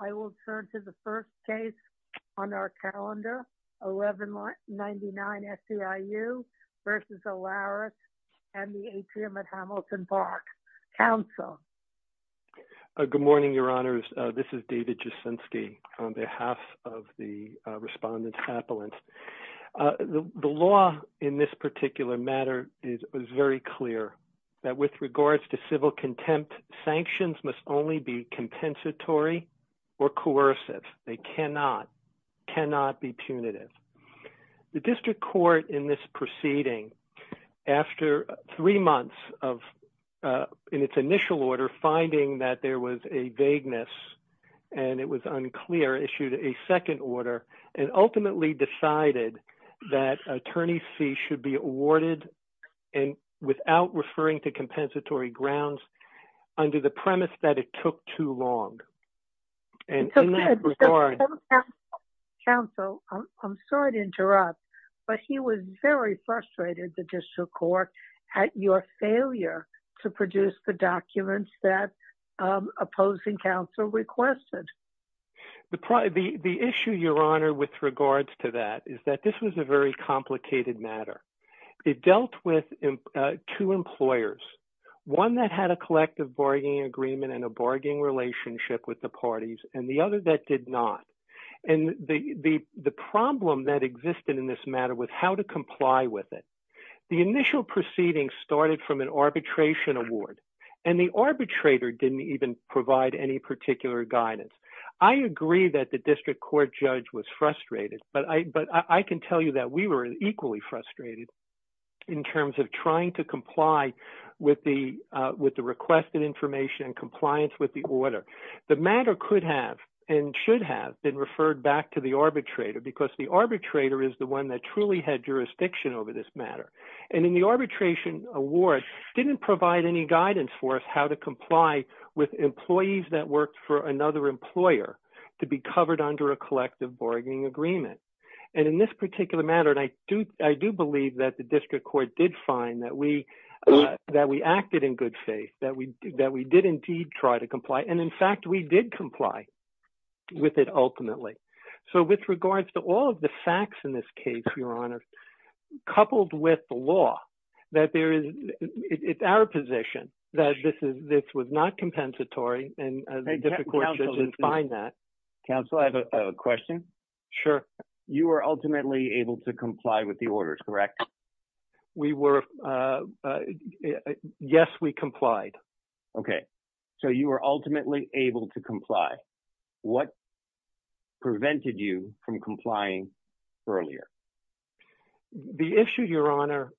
I will turn to the first case on our calendar 1199 SEIU versus Alaris and the atrium at Hamilton Park. Council. Good morning, your honors. This is David Jasinski on behalf of the respondents appellant. The law in this particular matter is very clear that with regards to civil contempt, sanctions must only be compensatory or coercive. They cannot, cannot be punitive. The district court in this proceeding, after three months of, in its initial order, finding that there was a vagueness and it was unclear, issued a second order and ultimately decided that attorney fee should be awarded and without referring to compensatory grounds under the premise that it took too long. And in that regard. Council, I'm sorry to interrupt, but he was very frustrated. The district court had your failure to produce the documents that opposing counsel requested. The, the, the issue your honor with regards to that is that this was a very complicated matter. It dealt with two employers, one that had a collective bargaining agreement and a bargaining relationship with the parties and the other that did not. And the, the, the problem that existed in this matter with how to comply with it. The initial proceeding started from an arbitration award and the arbitrator didn't even provide any particular guidance. I agree that the district court judge was frustrated, but I, but I can tell you that we were equally frustrated in terms of trying to comply with the, with the requested information and compliance with the order. The matter could have and should have been referred back to the arbitrator because the arbitrator is the one that truly had jurisdiction over this matter. And in the arbitration award didn't provide any guidance for us, how to comply with employees that worked for another employer to be covered under a collective bargaining agreement. And in this particular matter, and I do, I do believe that the district court did find that we, that we acted in good faith, that we, that we did indeed try to comply. And in fact, we did comply with it ultimately. So with regards to all of the facts in this case, your honor, coupled with the law that there is, it's our position that this is, this was not compensatory and the district court judge didn't find that. Counsel, I have a question. Sure. You were ultimately able to comply with the orders, correct? We were, yes, we complied. Okay. So you were ultimately able to comply. What prevented you from complying earlier? The issue your honor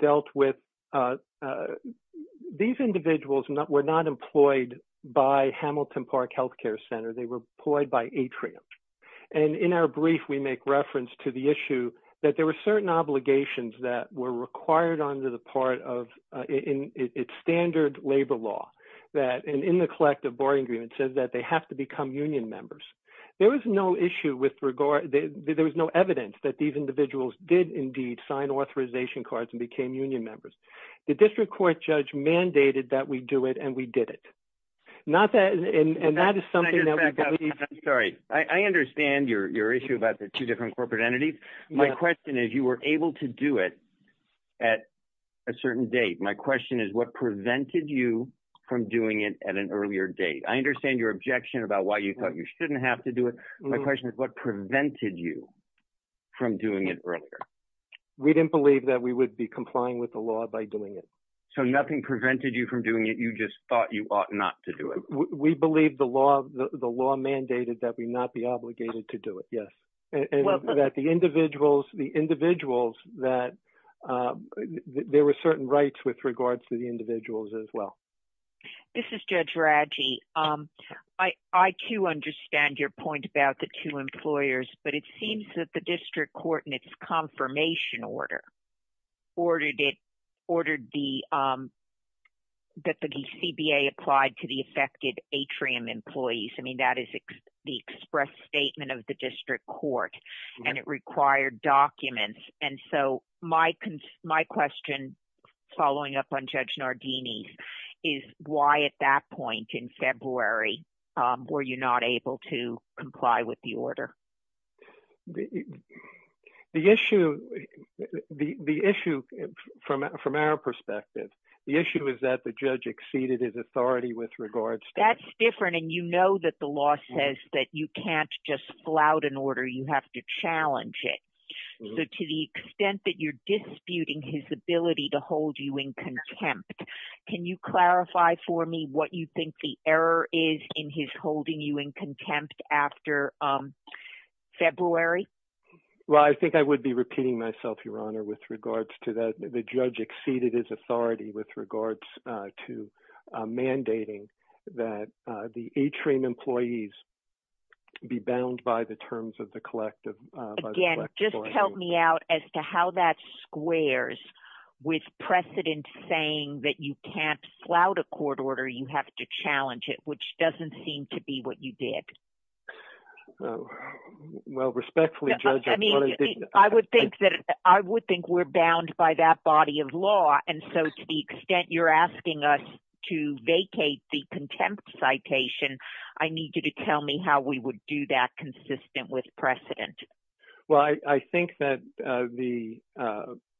dealt with, these individuals were not employed by Hamilton Park Healthcare Center. They were employed by Atrium. And in our brief, we make reference to the issue that there were certain obligations that were required under the part of in its standard labor law that, and in the collective bargaining agreement says that they have to become union members. There was no issue with regard, there was no evidence that these individuals did indeed sign authorization cards and became union members. The district court judge mandated that we do it and we did it. Not that, and that is something that we believe. I'm sorry. I understand your issue about the two different corporate entities. My question is you were able to do it at a certain date. My question is what prevented you from doing it at an earlier date? I understand your objection about why you thought you shouldn't have to do it. My question is what prevented you from doing it earlier? We didn't believe that we would be complying with the law by doing it. So nothing prevented you from doing it. You just thought you ought not to do it. We believe the law mandated that we not be obligated to do it. Yes. And that the individuals, the individuals that there were certain rights with regards to the individuals as well. This is Judge Raggi. I too understand your point about the two employers, but it seems that the district court in its confirmation order ordered it, ordered the, that the CBA applied to the affected atrium employees. I mean, that is the express statement of the district court and it required documents. And so my, my question following up on Judge Nardini is why at that point in February were you not able to comply with the order? The issue, the issue from, from our perspective, the issue is that the judge exceeded his authority with regards. That's different. And you know that the law says that you can't just flout an order. You have to challenge it. So to the extent that you're disputing his ability to hold you in contempt, can you clarify for me what you think the error is in his holding you in contempt after February? Well, I think I would be repeating myself, Your Honor, with regards to that. The judge exceeded his authority with regards to mandating that the atrium employees be bound by the terms of the collective. Again, just help me out as to how that squares with precedent saying that you can't flout a court order. You have to challenge it, which doesn't seem to be what you did. Well, respectfully, Judge. I would think that I would think we're bound by that body of law. And so to the extent you're asking us to vacate the contempt citation, I need you to tell me how we would do that consistent with precedent. Well, I think that the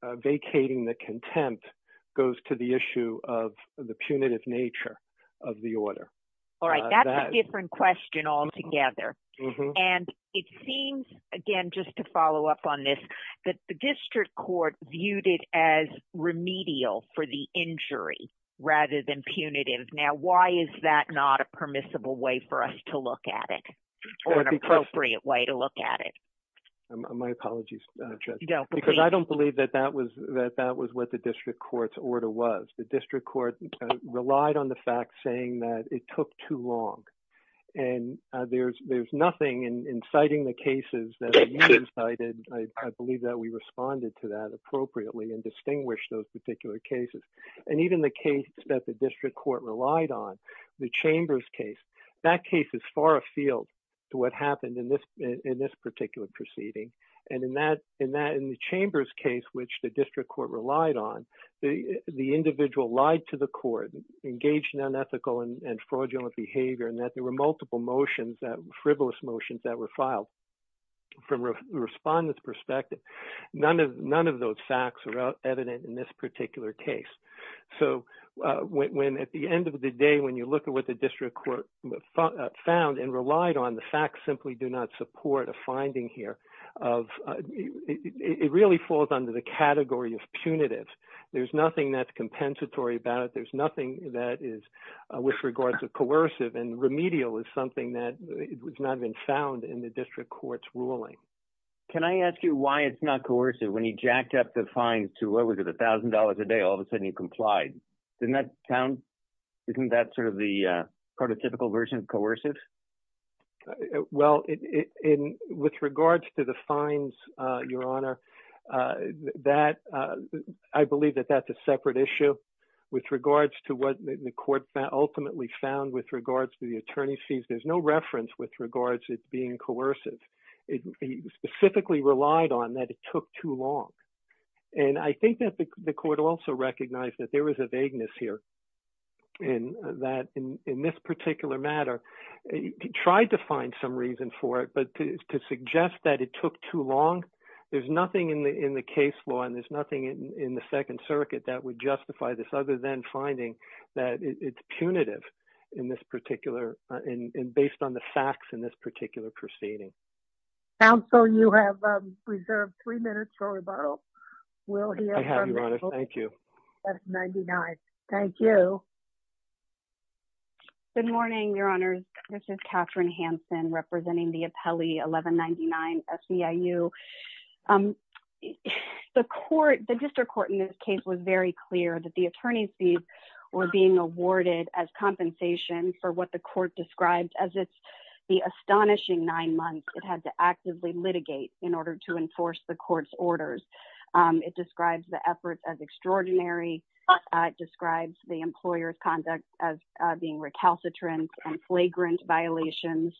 vacating the contempt goes to the issue of the punitive nature of the order. All right. That's a different question altogether. And it seems again, just to follow up on this, that the district court viewed it as remedial for the injury rather than punitive. Now, why is that not a permissible way for us to look at it or an appropriate way to look at it? My apologies, Judge, because I don't believe that that was what the district court's order was. The district court relied on the fact saying that it took too long. And there's nothing inciting the cases that I believe that we responded to that appropriately and distinguish those particular cases. And even the case that the district court relied on, the Chambers case, that case is far afield to what happened in this particular proceeding. And in the Chambers case, which the district court relied on, the individual lied to the court, engaged in unethical and fraudulent behavior, and that there were multiple motions, frivolous motions that were filed. From a respondent's perspective, none of those facts are evident in this particular case. So at the end of the day, when you look at what the district court found and relied on, the facts do not support a finding here. It really falls under the category of punitive. There's nothing that's compensatory about it. There's nothing that is with regards to coercive. And remedial is something that has not been found in the district court's ruling. Can I ask you why it's not coercive when he jacked up the fines to what was it, $1,000 a day, all of a sudden he complied? Isn't that sort of the prototypical version of coercive? Well, with regards to the fines, Your Honor, I believe that that's a separate issue. With regards to what the court ultimately found with regards to the attorney's fees, there's no reference with regards to it being coercive. He specifically relied on that it took too long. And I think that the court also recognized that there was a vagueness here and that in this particular matter, he tried to find some reason for it. But to suggest that it took too long, there's nothing in the case law and there's nothing in the Second Circuit that would justify this other than finding that it's punitive based on the facts in this particular proceeding. Counsel, you have reserved three minutes for rebuttal. We'll hear from you. Thank you. Thank you. Good morning, Your Honor. This is Katherine Hanson representing the appellee 1199-SEIU. The district court in this case was very clear that the attorney's fees were being awarded as compensation for what the court described as the astonishing nine months it had to actively litigate in order to enforce the court's orders. It describes the efforts as extraordinary. It describes the employer's conduct as being recalcitrant and flagrant violations.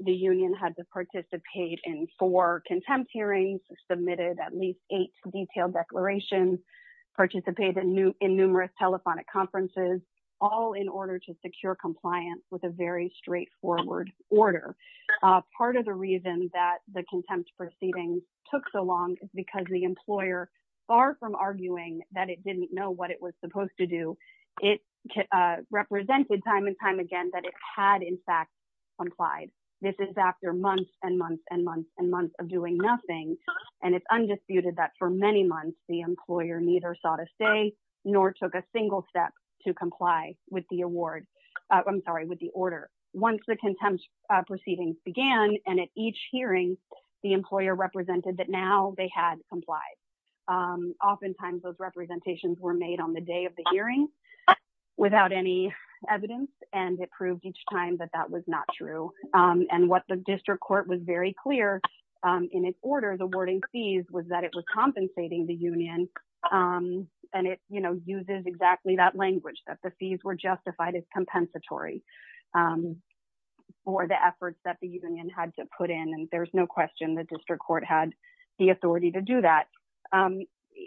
The union had to participate in four contempt hearings, submitted at least eight detailed declarations, participate in numerous telephonic conferences, all in order to secure compliance with a very straightforward order. Part of the reason that contempt proceedings took so long is because the employer, far from arguing that it didn't know what it was supposed to do, it represented time and time again that it had, in fact, complied. This is after months and months and months and months of doing nothing. And it's undisputed that for many months, the employer neither saw to stay nor took a single step to comply with the award. I'm sorry, with the order. Once the contempt proceedings began and at each hearing, the employer represented that now they had complied. Oftentimes those representations were made on the day of the hearing without any evidence, and it proved each time that that was not true. And what the district court was very clear in its order, the awarding fees, was that it was compensating the union. And it, you know, uses exactly that language, that the fees were justified as compensatory for the efforts that the union had to put in. And there's no question the district court had the authority to do that.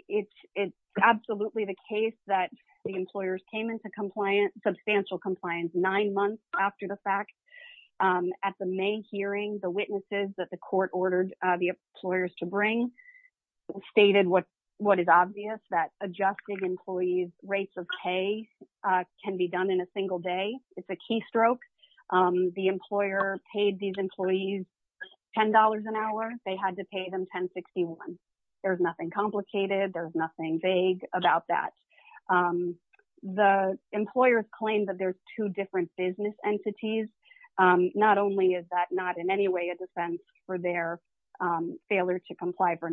It's absolutely the case that the employers came into compliance, substantial compliance, nine months after the fact. At the May hearing, the witnesses that the court ordered the employers to bring stated what is obvious, that adjusting employees' rates of pay can be done in a single day. It's a keystroke. The employer paid these employees $10 an hour. They had to pay them $10.61. There's nothing complicated. There's nothing vague about that. The employers claimed that there's two different business entities. Not only is that not in any way a defense for their failure to comply for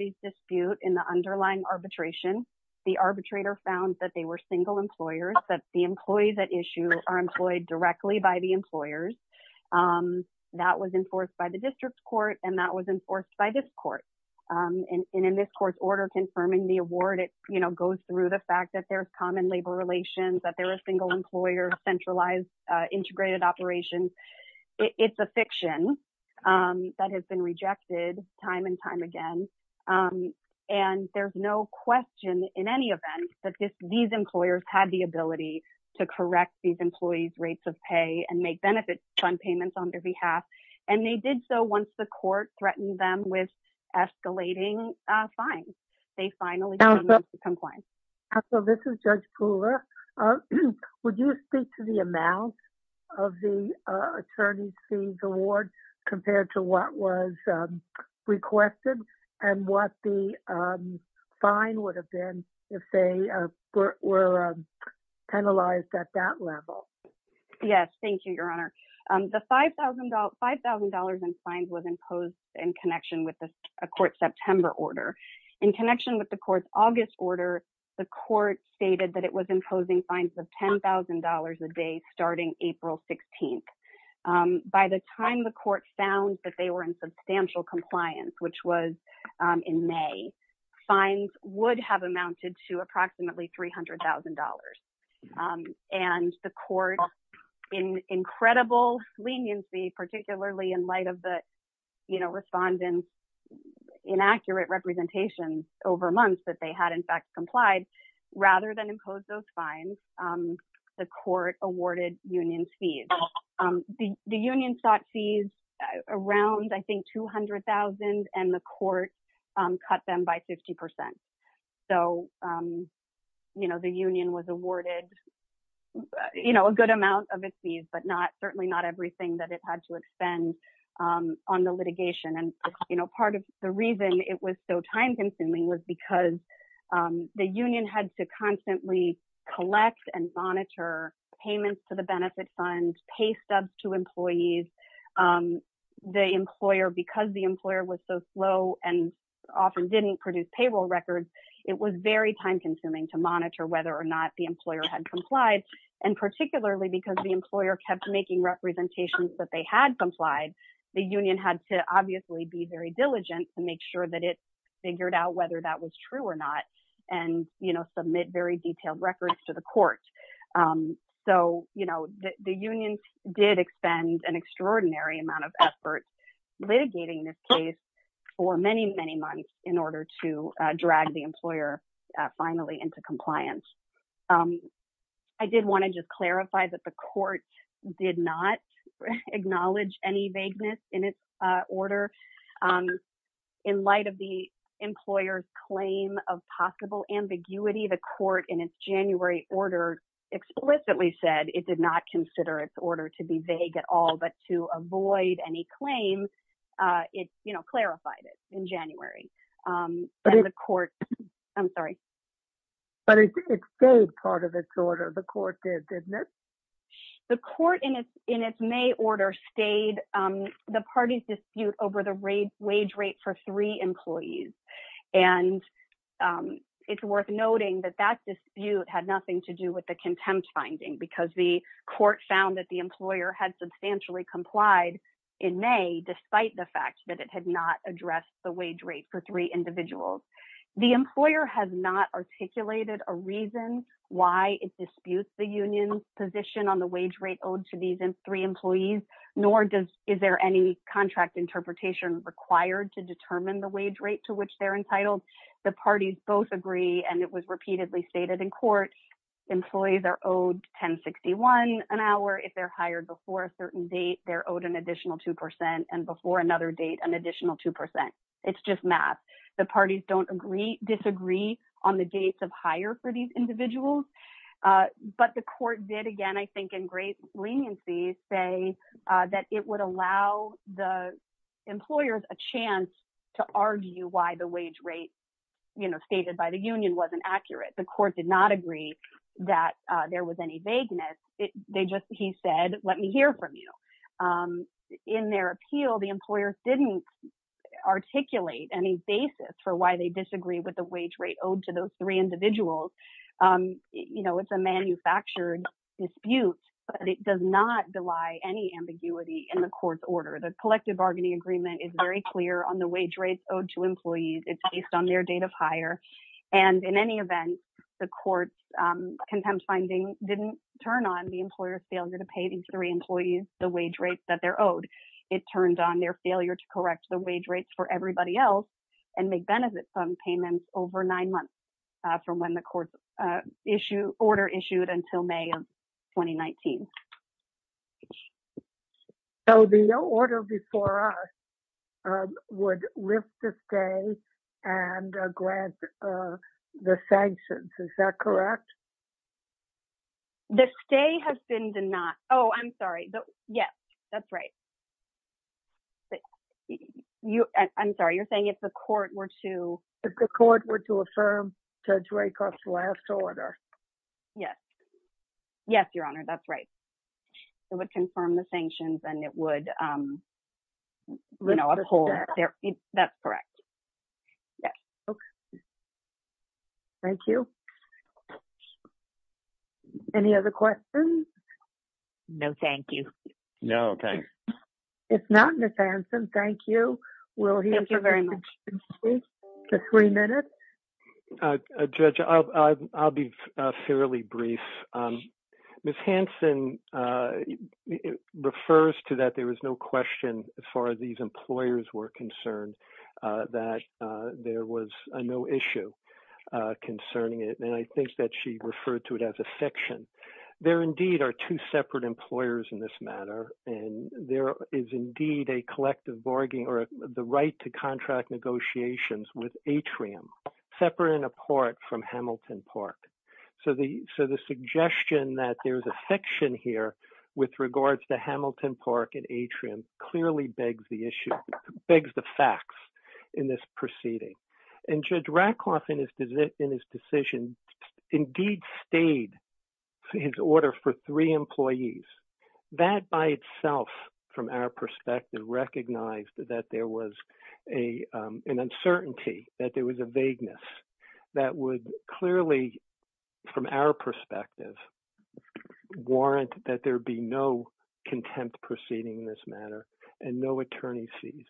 these disputes in the underlying arbitration, the arbitrator found that they were single employers, that the employees at issue are employed directly by the employers. That was enforced by the district court, and that was enforced by this court. And in this court's order confirming the award, it, you know, goes through the fact that there's common labor relations, that they're a single employer, centralized, integrated operations. It's a fiction that has been rejected time and time again. And there's no question in any event that these employers had the ability to correct these employees' rates of pay and make benefit fund payments on their behalf. And they did so once the court threatened them with escalating fines. They finally came into compliance. So this is Judge Pooler. Would you speak to the amount of the attorney's fees award compared to what was requested and what the fine would have been if they were penalized at that level? Yes. Thank you, Your Honor. The $5,000 in fines was imposed in connection with the court's September order. In connection with the court's August order, the court stated that it found that they were in substantial compliance, which was in May. Fines would have amounted to approximately $300,000. And the court, in incredible leniency, particularly in light of the, you know, respondents' inaccurate representations over months that they had, in fact, complied, rather than impose those fines, the court awarded unions fees. The union sought fees around, I think, $200,000, and the court cut them by 50%. So, you know, the union was awarded, you know, a good amount of its fees, but certainly not everything that it had to expend on the litigation. And, you know, part of the reason it was so time consuming was because the union had to constantly collect and monitor payments to the benefit funds, pay stubs to employees. The employer, because the employer was so slow and often didn't produce payroll records, it was very time consuming to monitor whether or not the employer had complied. And particularly because the employer kept making representations that they had complied, the union had to obviously be very diligent to make sure that it figured out whether that was true or not, and, you know, submit very detailed records to the court. So, you know, the union did expend an extraordinary amount of effort litigating this case for many, many months in order to drag the employer finally into compliance. I did want to just clarify that the court did not acknowledge any vagueness in its order. In light of the employer's claim of possible ambiguity, the court in its January order explicitly said it did not consider its order to be vague at all, but to avoid any claims, it, you know, clarified it in January. The court, I'm sorry. But it stayed part of its order, the court did, didn't it? The court in its May order stayed the party's dispute over the wage rate for three employees. And it's worth noting that that dispute had nothing to do with the contempt finding, because the court found that the employer had substantially complied in May, despite the fact that it had not addressed the wage rate for three individuals. The employer has not articulated a reason why it disputes the union's position on the wage rate owed to these three employees, nor does, is there any contract interpretation required to determine the wage rate to which they're entitled. The parties both agree, and it was repeatedly stated in court, employees are owed 1061 an hour, if they're hired before a certain date, they're owed an additional 2%, and before another date, an additional 2%. It's just math. The parties don't agree, disagree on the dates of hire for these individuals. But the court did, again, I think, in great leniency, say that it would allow the employers a chance to argue why the wage rate, you know, stated by the union wasn't accurate. The court did not agree that there was any vagueness. They just, he said, let me hear from you. In their appeal, the employers didn't articulate any basis for why they disagree with the wage rate owed to those three individuals. You know, it's a manufactured dispute, but it does not deny any ambiguity in the court's order. The collective bargaining agreement is very clear on the wage rates owed to employees. It's based on their date of hire. And in any event, the court's contempt finding didn't turn on the employer's failure to pay these three employees the wage rates that they're owed. It turned on their failure to correct the wage rates for everybody else and make benefit from payments over nine months from when the court's order issued until May of 2019. So the order before us would lift the stay and grant the sanctions. Is that correct? The stay has been denied. Oh, I'm sorry. Yes, that's right. You, I'm sorry. You're saying if the court were to. If the court were to affirm Judge Rakoff's last order. Yes. Yes, Your Honor. That's right. It would confirm the sanctions and it would, you know, uphold. That's correct. Yes. Okay. Thank you. Any other questions? No, thank you. No, okay. If not, Ms. Hanson, thank you. We'll hear from you in three minutes. Judge, I'll be fairly brief. Ms. Hanson refers to that there was no question as far as these no issue concerning it. And I think that she referred to it as a fiction. There indeed are two separate employers in this matter. And there is indeed a collective bargaining or the right to contract negotiations with Atrium separate and apart from Hamilton Park. So the suggestion that there's a fiction here with regards to Hamilton Park and Atrium clearly begs the issue, begs the facts in this proceeding. And Judge Rakoff in his decision indeed stayed his order for three employees. That by itself from our perspective recognized that there was an uncertainty, that there was a vagueness that would clearly from our perspective warrant that there be no contempt proceeding in this matter and no attorney sees.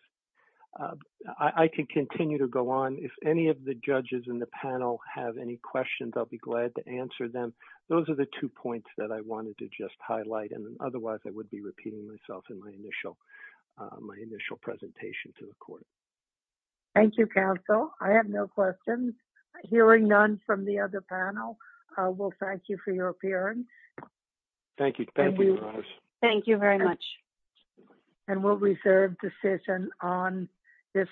I can continue to go on. If any of the judges in the panel have any questions, I'll be glad to answer them. Those are the two points that I wanted to just highlight. And otherwise, I would be repeating myself in my initial presentation to the court. Thank you, counsel. I have no questions. Hearing none from the other panel, we'll thank you for your appearance. Thank you. Thank you very much. And we'll reserve decision on this.